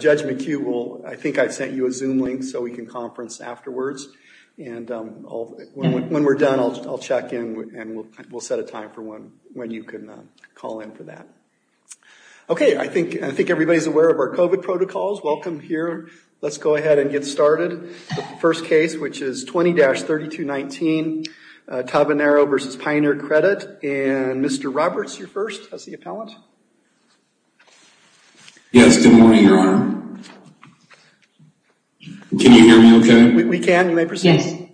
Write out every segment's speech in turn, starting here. Judge McHugh, I think I sent you a Zoom link so we can conference afterwards and when we're done, I'll check in and we'll set a time for when you can call in for that. Okay, I think everybody's aware of our COVID protocols. Welcome here. Let's go ahead and get started. The first case, which is 20-3219, Tavernaro v. Pioneer Credit. And Mr. Roberts, you're first as the appellant. Yes, good morning, Your Honor. Can you hear me okay? We can, you may proceed.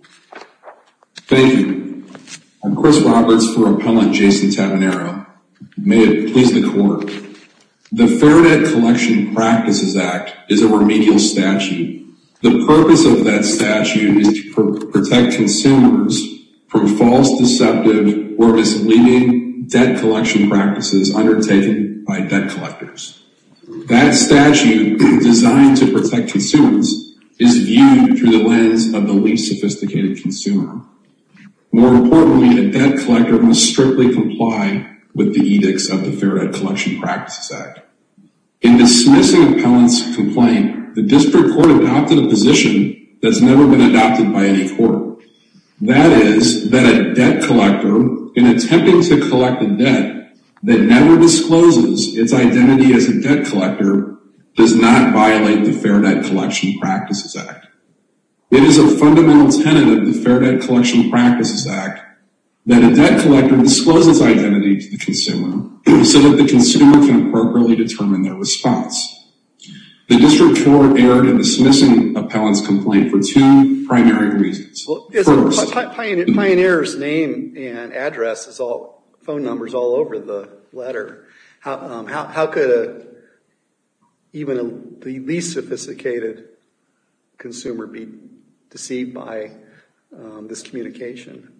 Thank you. I'm Chris Roberts for Appellant Jason Tavernaro. May it please the Court. The Fair Debt Collection Practices Act is a remedial statute. The purpose of that statute is to protect consumers from false, deceptive, or misleading debt collection practices undertaken by debt collectors. That statute, designed to protect consumers, is viewed through the lens of the least sophisticated consumer. More importantly, a debt collector must strictly comply with the edicts of the Fair Debt Collection Practices Act. In dismissing an appellant's complaint, the district court adopted a position that has never been adopted by any court. That is, that a debt collector, in attempting to collect a debt that never discloses its identity as a debt collector, does not violate the Fair Debt Collection Practices Act. It is a fundamental tenet of the Fair Debt Collection Practices Act that a debt collector discloses identity to the consumer so that the consumer can appropriately determine their response. The district court erred in dismissing an appellant's complaint for two primary reasons. Well, isn't Pioneer's name and address, phone numbers all over the letter? How could even the least sophisticated consumer be deceived by this communication?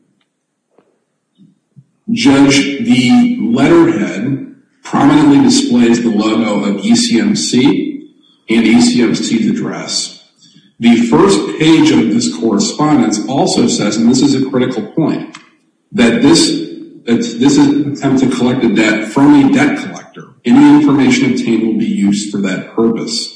Judge, the letterhead prominently displays the logo of ECMC and ECMC's address. The first page of this correspondence also says, and this is a critical point, that this is an attempt to collect a debt from a debt collector. Any information obtained will be used for that purpose.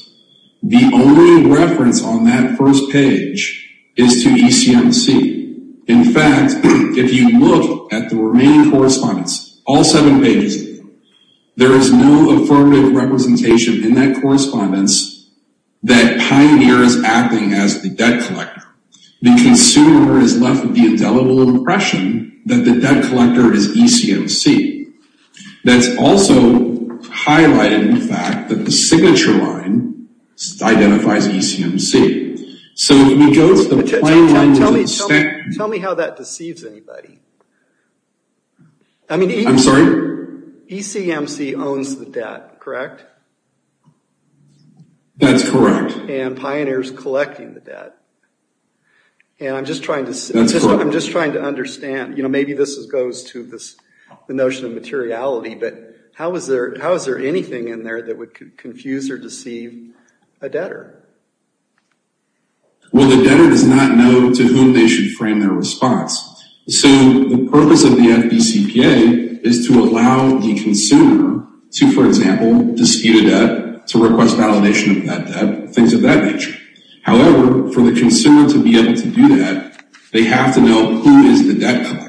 The only reference on that first page is to ECMC. In fact, if you look at the remaining correspondence, all seven pages of it, there is no affirmative representation in that correspondence that Pioneer is acting as the debt collector. The consumer is left with the indelible impression that the debt collector is ECMC. That's also highlighted in the fact that the signature line identifies ECMC. Tell me how that deceives anybody. I'm sorry? ECMC owns the debt, correct? That's correct. And Pioneer is collecting the debt. And I'm just trying to understand. Maybe this goes to the notion of materiality, but how is there anything in there that would confuse or deceive a debtor? Well, the debtor does not know to whom they should frame their response. So, the purpose of the FBCPA is to allow the consumer to, for example, dispute a debt, to request validation of that debt, things of that nature. However, for the consumer to be able to do that, they have to know who is the debt collector.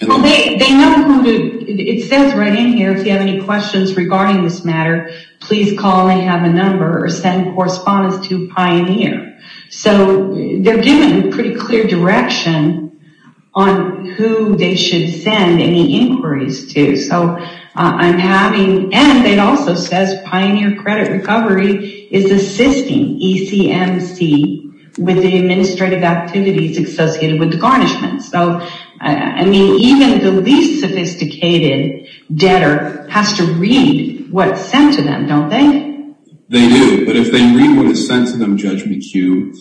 It says right in here, if you have any questions regarding this matter, please call and have a number or send correspondence to Pioneer. So, they're given a pretty clear direction on who they should send any inquiries to. And it also says Pioneer Credit Recovery is assisting ECMC with the administrative activities associated with the garnishment. So, I mean, even the least sophisticated debtor has to read what's sent to them, don't they? They do. But if they read what is sent to them, Judge McHugh,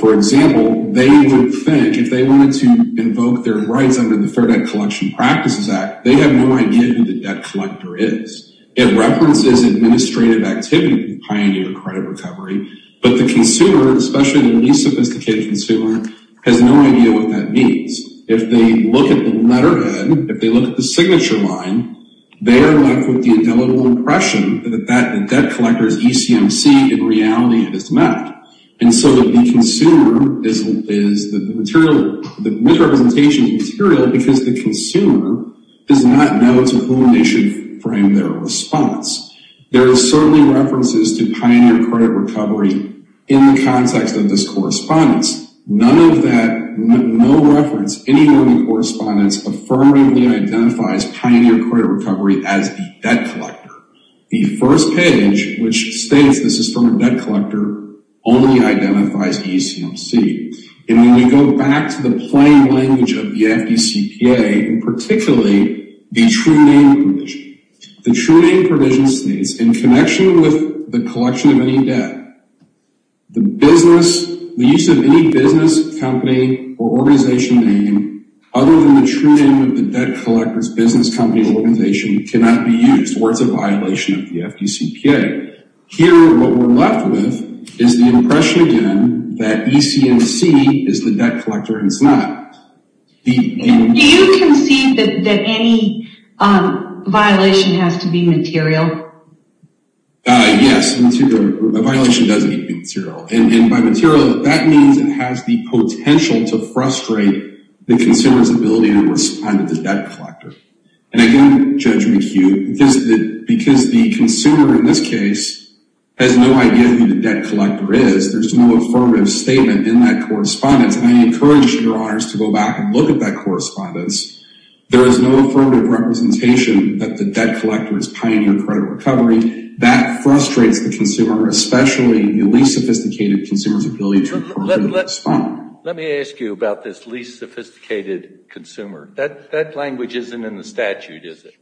for example, they would think if they wanted to invoke their rights under the Fair Debt Collection Practices Act, they have no idea who the debt collector is. It references administrative activity with Pioneer Credit Recovery, but the consumer, especially the least sophisticated consumer, has no idea what that means. If they look at the letterhead, if they look at the signature line, they are left with the indelible impression that the debt collector is ECMC. In reality, it is not. And so the consumer is the material, the misrepresentation of the material because the consumer does not know to whom they should frame their response. There are certainly references to Pioneer Credit Recovery in the context of this correspondence. None of that, no reference anywhere in the correspondence affirmatively identifies Pioneer Credit Recovery as the debt collector. The first page, which states this is from a debt collector, only identifies ECMC. And when we go back to the plain language of the FDCPA, and particularly the true name provision, the true name provision states in connection with the collection of any debt, the business, the use of any business, company, or organization name other than the true name of the debt collector's business, company, or organization cannot be used or it's a violation of the FDCPA. Here, what we're left with is the impression again that ECMC is the debt collector and it's not. Do you concede that any violation has to be material? Yes, a violation does need to be material. And by material, that means it has the potential to frustrate the consumer's ability to respond to the debt collector. And again, Judge McHugh, because the consumer in this case has no idea who the debt collector is, there's no affirmative statement in that correspondence. And I encourage your honors to go back and look at that correspondence. There is no affirmative representation that the debt collector is pioneering credit recovery. That frustrates the consumer, especially the least sophisticated consumer's ability to appropriately respond. Let me ask you about this least sophisticated consumer. That language isn't in the statute, is it?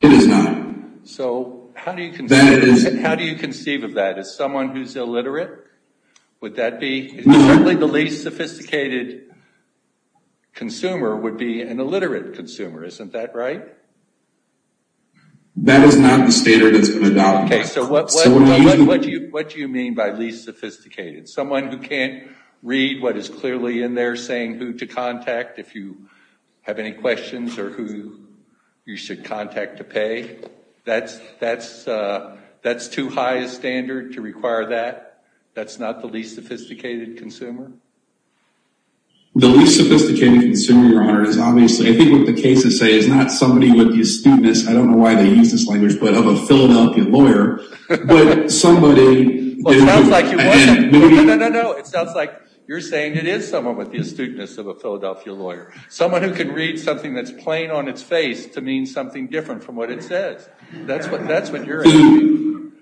It is not. So how do you conceive of that? As someone who's illiterate, would that be? Certainly the least sophisticated consumer would be an illiterate consumer. Isn't that right? That is not the standard that's been adopted. Okay, so what do you mean by least sophisticated? Someone who can't read what is clearly in there saying who to contact if you have any questions or who you should contact to pay? That's too high a standard to require that? That's not the least sophisticated consumer? The least sophisticated consumer, your honor, is obviously, I think what the cases say, is not somebody with the astuteness, I don't know why they use this language, but of a Philadelphia lawyer, but somebody. Well, it sounds like it wasn't. No, no, no, no. It sounds like you're saying it is someone with the astuteness of a Philadelphia lawyer, someone who can read something that's plain on its face to mean something different from what it says. That's what you're assuming.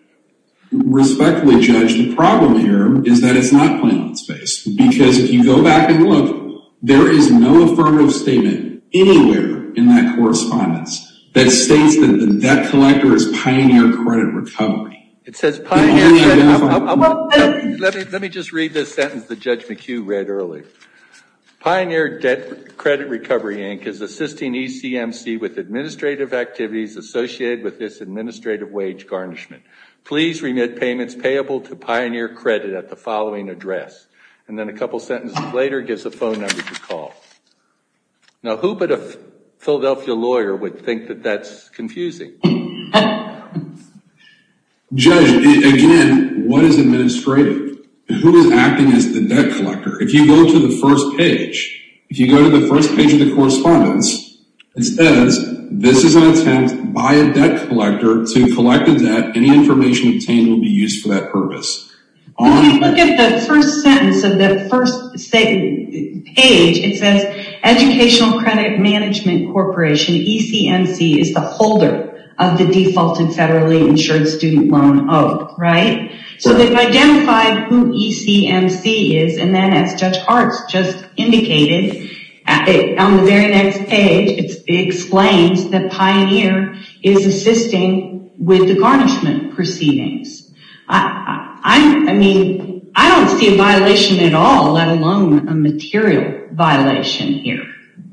Respectfully, Judge, the problem here is that it's not plain on its face, because if you go back and look, there is no affirmative statement anywhere in that correspondence that states that the debt collector is Pioneer Credit Recovery. It says Pioneer Credit. Let me just read this sentence that Judge McHugh read earlier. Pioneer Debt Credit Recovery Inc. is assisting ECMC with administrative activities associated with this administrative wage garnishment. Please remit payments payable to Pioneer Credit at the following address. And then a couple sentences later, it gives a phone number to call. Now, who but a Philadelphia lawyer would think that that's confusing? Judge, again, what is administrative? Who is acting as the debt collector? If you go to the first page, if you go to the first page of the correspondence, it says, this is on intent by a debt collector to collect a debt. Any information obtained will be used for that purpose. When we look at the first sentence of the first page, it says, Educational Credit Management Corporation, ECMC, is the holder of the default and federally insured student loan owed, right? So they've identified who ECMC is. And then as Judge Hart just indicated, on the very next page, it explains that Pioneer is assisting with the garnishment proceedings. I mean, I don't see a violation at all, let alone a material violation here.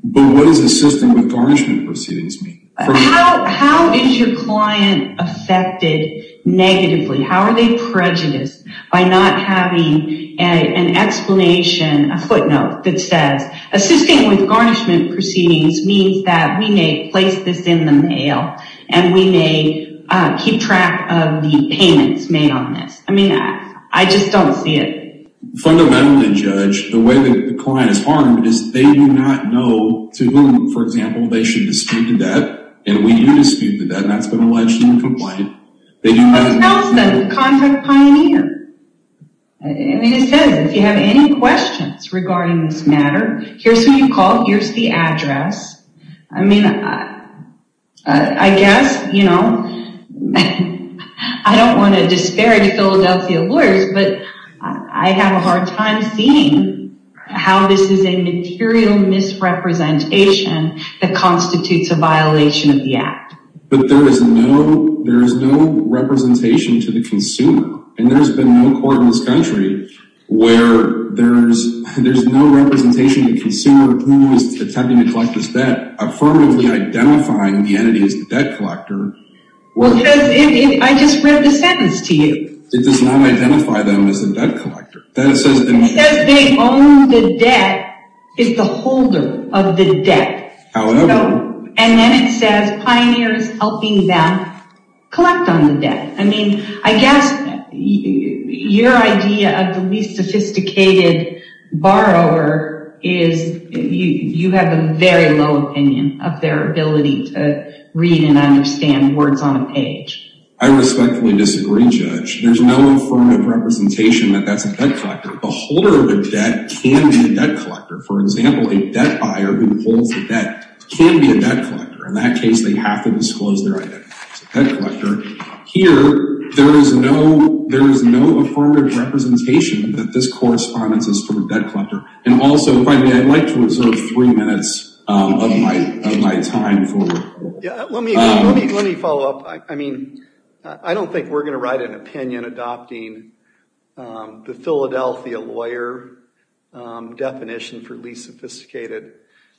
But what does assisting with garnishment proceedings mean? How is your client affected negatively? How are they prejudiced by not having an explanation, a footnote that says, assisting with garnishment proceedings means that we may place this in the mail and we may keep track of the payments made on this. I mean, I just don't see it. Fundamentally, Judge, the way that the client is harmed is they do not know to whom, for example, they should dispute the debt. And we do dispute the debt, and that's been alleged in the complaint. What else then? Contact Pioneer. I mean, it says, if you have any questions regarding this matter, here's who you call, here's the address. I mean, I guess, you know, I don't want to disparage Philadelphia lawyers, but I have a hard time seeing how this is a material misrepresentation that constitutes a violation of the Act. But there is no representation to the consumer, and there's been no court in this country where there's no representation to the consumer of who is attempting to collect this debt, affirmatively identifying the entity as the debt collector. Well, I just read the sentence to you. It does not identify them as the debt collector. It says they own the debt, is the holder of the debt. However. And then it says Pioneer is helping them collect on the debt. I mean, I guess your idea of the least sophisticated borrower is you have a very low opinion of their ability to read and understand words on a page. I respectfully disagree, Judge. There's no affirmative representation that that's a debt collector. The holder of the debt can be a debt collector. For example, a debt buyer who holds the debt can be a debt collector. In that case, they have to disclose their identity as a debt collector. Here, there is no affirmative representation that this corresponds to the debt collector. And also, if I may, I'd like to reserve three minutes of my time. Let me follow up. I mean, I don't think we're going to write an opinion adopting the Philadelphia lawyer definition for least sophisticated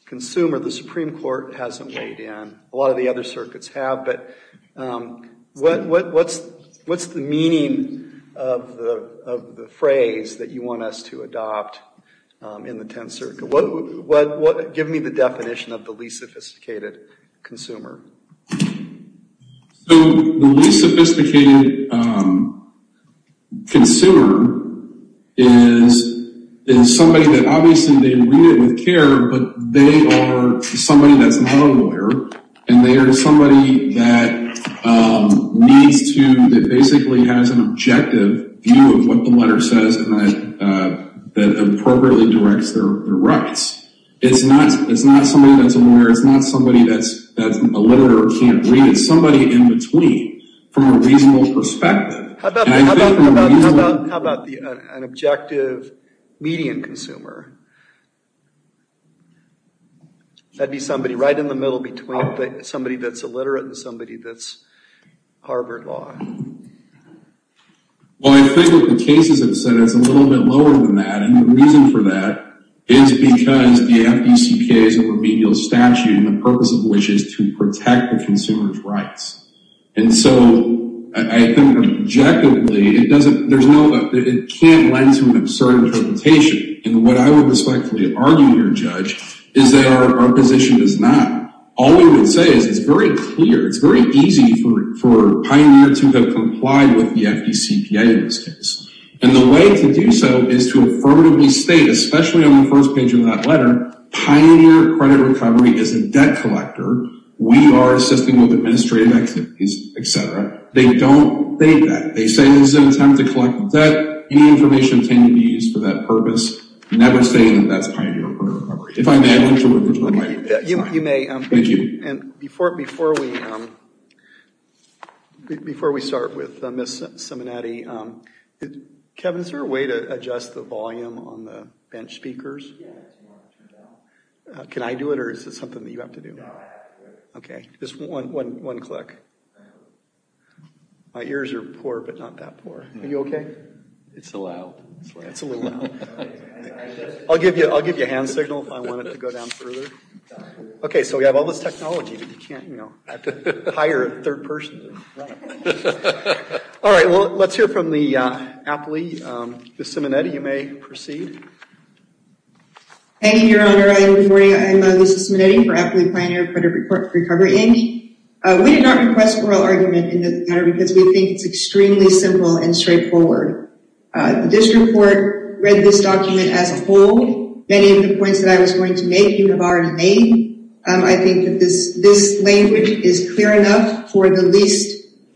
consumer. The Supreme Court hasn't weighed in. A lot of the other circuits have. But what's the meaning of the phrase that you want us to adopt in the Tenth Circuit? Give me the definition of the least sophisticated consumer. So the least sophisticated consumer is somebody that obviously they read it with care, but they are somebody that's not a lawyer, and they are somebody that basically has an objective view of what the letter says that appropriately directs their rights. It's not somebody that's a lawyer. It's not somebody that's illiterate or can't read. It's somebody in between from a reasonable perspective. How about an objective median consumer? That would be somebody right in the middle between somebody that's illiterate and somebody that's Harvard Law. Well, I think what the cases have said is a little bit lower than that, and the reason for that is because the FDCPA is a remedial statute, and the purpose of which is to protect the consumer's rights. And so I think objectively it can't lend to an absurd interpretation. And what I would respectfully argue here, Judge, is that our position is not. All we would say is it's very clear, it's very easy for Pioneer to have complied with the FDCPA in this case. And the way to do so is to affirmatively state, especially on the first page of that letter, Pioneer Credit Recovery is a debt collector. We are assisting with administrative activities, et cetera. They don't think that. They say this is an attempt to collect the debt. Any information can be used for that purpose. Never say that that's Pioneer Credit Recovery. If I may, I'd like to refer to the mic. You may. And before we start with Ms. Simonetti, Kevin, is there a way to adjust the volume on the bench speakers? Can I do it or is it something that you have to do? No, I have to do it. Okay. Just one click. My ears are poor but not that poor. Are you okay? It's a little loud. It's a little loud. I'll give you a hand signal if I want it to go down further. Okay, so we have all this technology, but you can't, you know, hire a third person. Right. All right, well, let's hear from the Apley. Ms. Simonetti, you may proceed. Thank you, Your Honor. Good morning. I'm Lisa Simonetti for Apley Pioneer Credit Recovery. Amy, we did not request oral argument in this matter because we think it's extremely simple and straightforward. This report read this document as a whole. Many of the points that I was going to make you have already made. I think that this language is clear enough for the least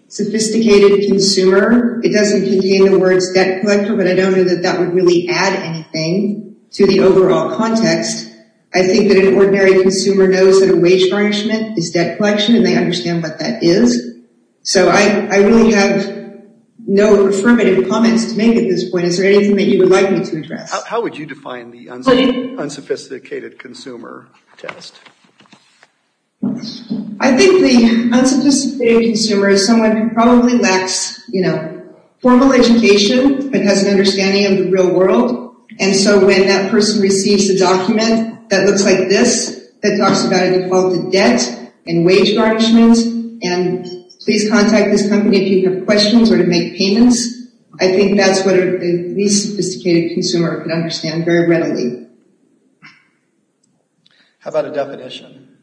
sophisticated consumer. It doesn't contain the words debt collector, but I don't know that that would really add anything to the overall context. I think that an ordinary consumer knows that a wage garnishment is debt collection and they understand what that is. So I really have no affirmative comments to make at this point. Is there anything that you would like me to address? How would you define the unsophisticated consumer test? I think the unsophisticated consumer is someone who probably lacks, you know, formal education, but has an understanding of the real world. And so when that person receives a document that looks like this, that talks about a defaulted debt and wage garnishments, and please contact this company if you have questions or to make payments, I think that's what a least sophisticated consumer can understand very readily. How about a definition?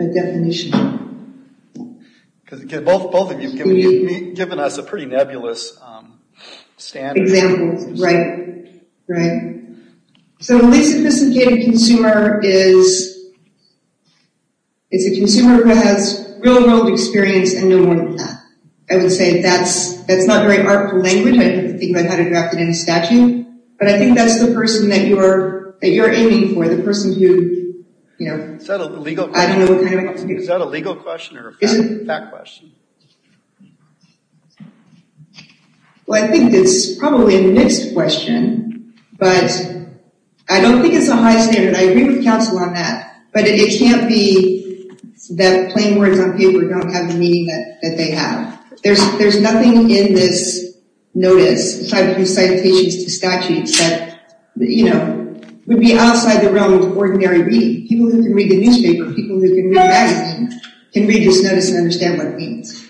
A definition. Because both of you have given us a pretty nebulous standard. Examples, right, right. So a least sophisticated consumer is a consumer who has real world experience and no moral path. I would say that's not very artful language. I didn't think about how to draft it in a statute, but I think that's the person that you're aiming for, the person who, you know, I don't know what kind of legal question. Is that a legal question or a fact question? Well, I think it's probably a mixed question. But I don't think it's a high standard. I agree with counsel on that. But it can't be that plain words on paper don't have the meaning that they have. There's nothing in this notice, aside from citations to statutes that, you know, would be outside the realm of ordinary reading. People who can read the newspaper, people who can read magazines, can read this notice and understand what it means.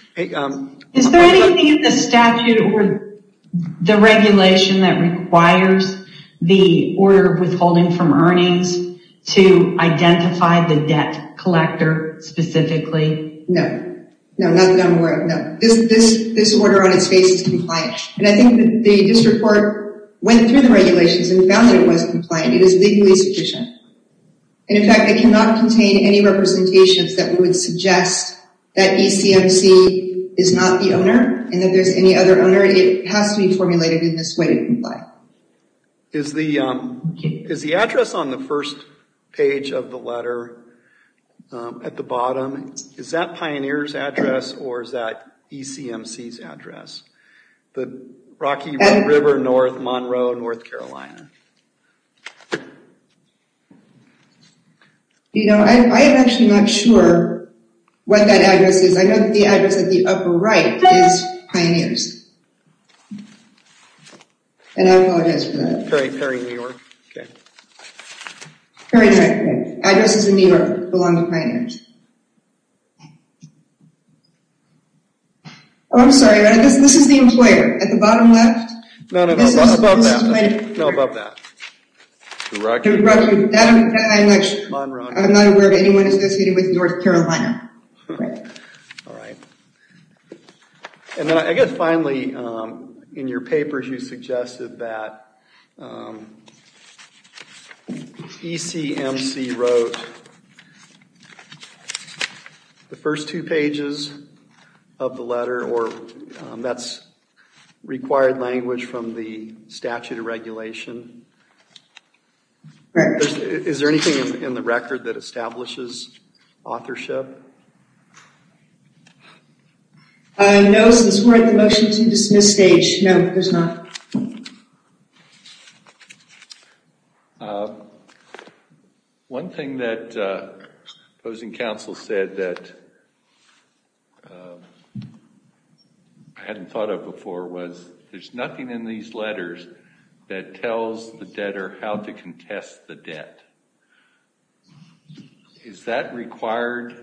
Is there anything in the statute or the regulation that requires the order of withholding from earnings to identify the debt collector specifically? No. No, not that I'm aware of. No. This order on its face is compliant. And I think that the district court went through the regulations and found that it was compliant. It is legally sufficient. And in fact, it cannot contain any representations that would suggest that ECMC is not the owner and that there's any other owner. It has to be formulated in this way to comply. Is the address on the first page of the letter at the bottom, is that Pioneer's address or is that ECMC's address? The Rocky River North Monroe, North Carolina. You know, I'm actually not sure what that address is. I know that the address at the upper right is Pioneer's. And I apologize for that. Perry, New York. Okay. Perry, New York. Addresses in New York belong to Pioneer's. Oh, I'm sorry. This is the employer at the bottom left. No, no, no. No, about that. Rocky? Rocky. I'm not aware of anyone associated with North Carolina. All right. And then I guess finally, in your papers, That's required language from the statute of regulation. Is there anything in the record that establishes authorship? No, since we're at the motion to dismiss stage. No, there's not. Okay. One thing that opposing counsel said that I hadn't thought of before was there's nothing in these letters that tells the debtor how to contest the debt. Is that required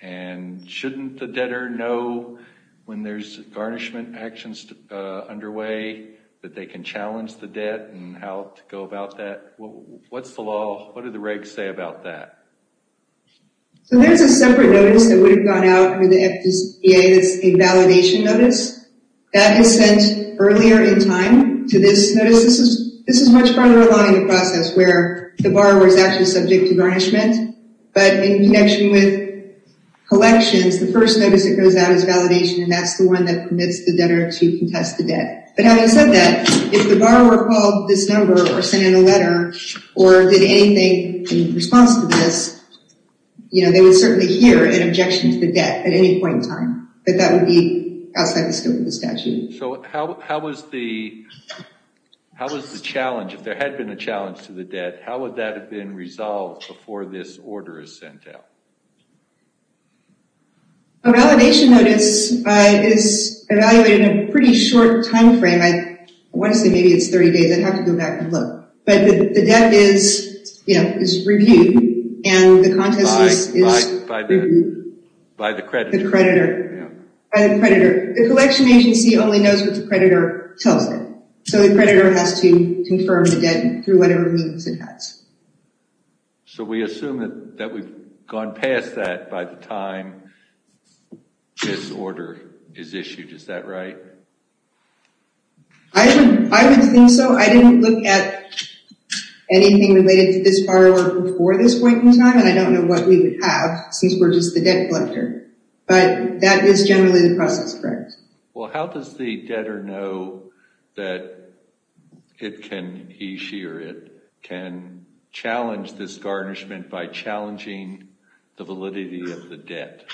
and shouldn't the debtor know when there's garnishment actions underway that they can challenge the debt and how to go about that? What's the law? What do the regs say about that? So there's a separate notice that would have gone out with the FDCA. It's a validation notice. That is sent earlier in time to this notice. This is much further along in the process where the borrower is actually subject to garnishment. But in connection with collections, the first notice that goes out is for the debtor to contest the debt. But having said that, if the borrower called this number or sent in a letter or did anything in response to this, you know, they would certainly hear an objection to the debt at any point in time. But that would be outside the scope of the statute. So how was the challenge, if there had been a challenge to the debt, how would that have been resolved before this order is sent out? A validation notice is evaluated in a pretty short time frame. I want to say maybe it's 30 days. I'd have to go back and look. But the debt is reviewed and the contest is reviewed. By the creditor. The creditor. By the creditor. The collection agency only knows what the creditor tells them. So the creditor has to confirm the debt through whatever means it has. So we assume that we've gone past that by the time this order is issued. Is that right? I would think so. I didn't look at anything related to this borrower before this point in time, and I don't know what we would have since we're just the debt collector. But that is generally the process, correct? Well, how does the debtor know that it can, he, she, or it, can challenge this garnishment by challenging the validity of the debt?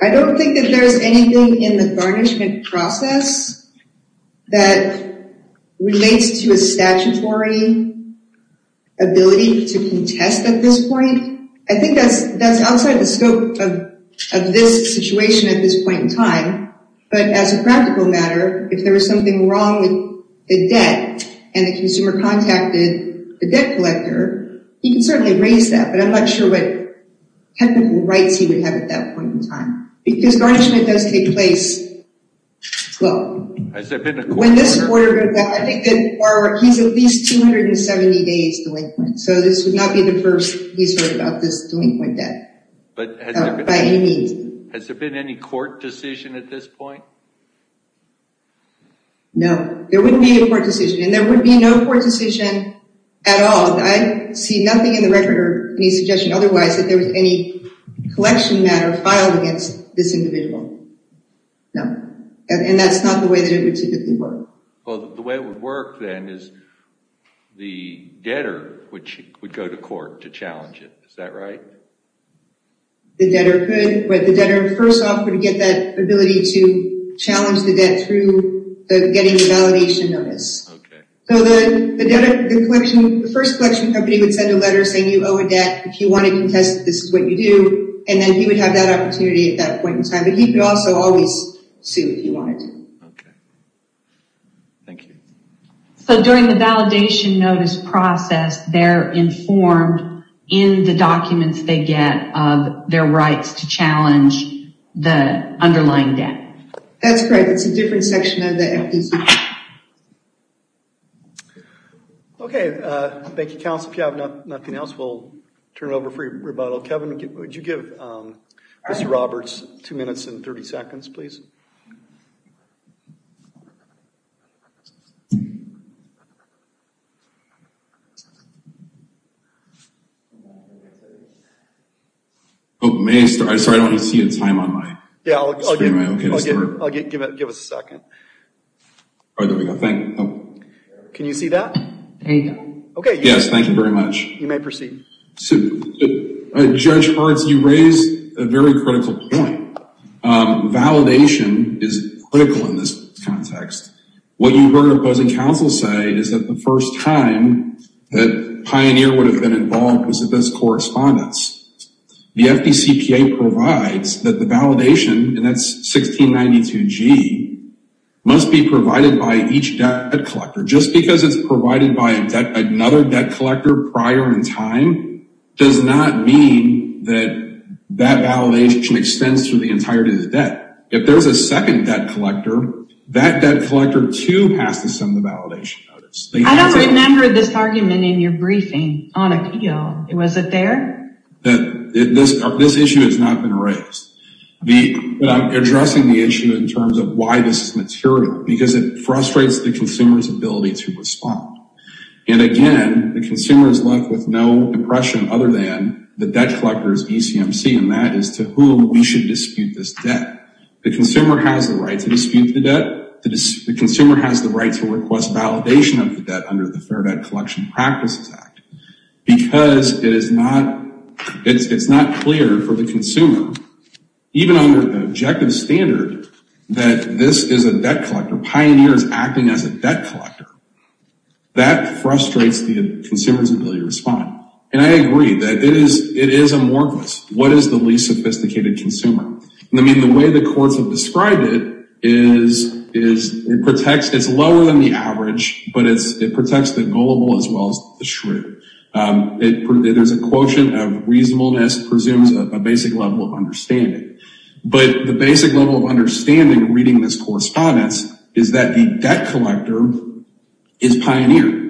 I don't think that there's anything in the garnishment process that relates to a statutory ability to contest at this point. I think that's outside the scope of this situation at this point in time. But as a practical matter, if there was something wrong with the debt and the consumer contacted the debt collector, he can certainly raise that. But I'm not sure what technical rights he would have at that point in time. Because garnishment does take place, well, when this order, I think the borrower, he's at least 270 days delinquent. So this would not be the first he's heard about this delinquent debt by any means. Has there been any court decision at this point? No. There wouldn't be a court decision, and there would be no court decision at all. I see nothing in the record or any suggestion otherwise that there was any collection matter filed against this individual. No. And that's not the way that it would typically work. Well, the way it would work then is the debtor would go to court to challenge it. Is that right? The debtor could. But the debtor first off would get that ability to challenge the debt through getting a validation notice. Okay. So the first collection company would send a letter saying you owe a debt. If you want to contest, this is what you do. And then he would have that opportunity at that point in time. But he could also always sue if he wanted to. Okay. Thank you. So during the validation notice process, they're informed in the documents they get of their rights to challenge the underlying debt. That's correct. It's a different section of the FDC. Okay. Thank you, counsel. If you have nothing else, we'll turn it over for your rebuttal. Kevin, would you give Mr. Roberts two minutes and 30 seconds, please? May I start? I'm sorry, I don't see a time on my screen. I'll give us a second. There we go. Thank you. Can you see that? Yes, thank you very much. You may proceed. Judge Hartz, you raised a very critical point. Validation is critical in this context. What you heard opposing counsel say is that the first time that Pioneer would have been involved was at this correspondence. The FDCPA provides that the validation, and that's 1692G, must be provided by each debt collector. Just because it's provided by another debt collector prior in time does not mean that that validation extends through the entirety of the debt. If there's a second debt collector, that debt collector, too, has to send the validation notice. I don't remember this argument in your briefing on appeal. Was it there? This issue has not been raised. I'm addressing the issue in terms of why this is material, because it frustrates the consumer's ability to respond. Again, the consumer is left with no impression other than the debt collector's ECMC, and that is to whom we should dispute this debt. The consumer has the right to dispute the debt. The consumer has the right to request validation of the debt under the Fair Debt Collection Practices Act, because it's not clear for the consumer, even under the objective standard that this is a debt collector, Pioneer is acting as a debt collector. That frustrates the consumer's ability to respond. And I agree that it is amorphous. What is the least sophisticated consumer? I mean, the way the courts have described it is it's lower than the average, but it protects the gullible as well as the shrew. There's a quotient of reasonableness presumes a basic level of understanding. But the basic level of understanding reading this correspondence is that the debt collector is Pioneer.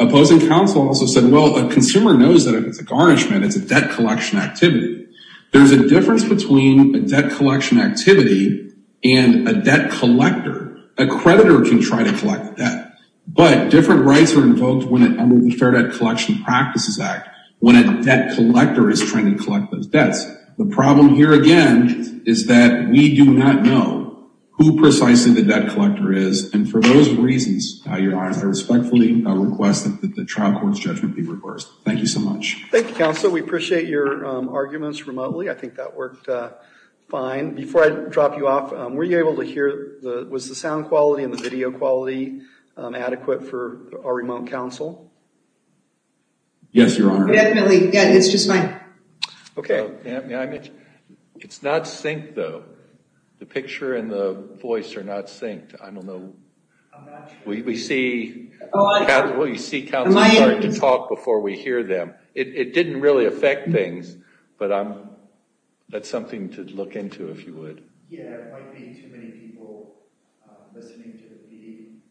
Opposing counsel also said, well, a consumer knows that if it's a garnishment, it's a debt collection activity. There's a difference between a debt collection activity and a debt collector. A creditor can try to collect the debt, but different rights are invoked under the Fair Debt Collection Practices Act when a debt collector is trying to collect those debts. The problem here, again, is that we do not know who precisely the debt collector is, and for those reasons, Your Honor, I respectfully request that the trial court's judgment be reversed. Thank you so much. Thank you, counsel. We appreciate your arguments remotely. I think that worked fine. Before I drop you off, were you able to hear, was the sound quality and the video quality adequate for our remote counsel? Yes, Your Honor. Definitely. Yeah, it's just fine. Okay. May I mention, it's not synced, though. The picture and the voice are not synced. I don't know. We see counsel starting to talk before we hear them. It didn't really affect things, but that's something to look into if you would. Yeah, it might be too many people listening to the meeting.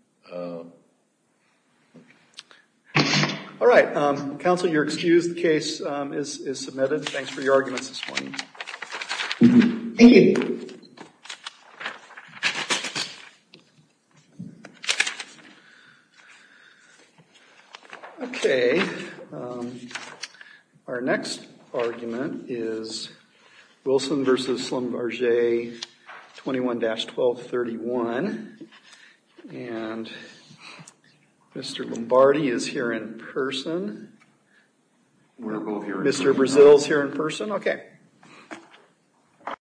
All right. Counsel, you're excused. The case is submitted. Thanks for your arguments this morning. Thank you. Okay. Our next argument is Wilson v. Schlumberger 21-1231. And Mr. Lombardi is here in person. We're both here in person. Mr. Brazil is here in person. Okay.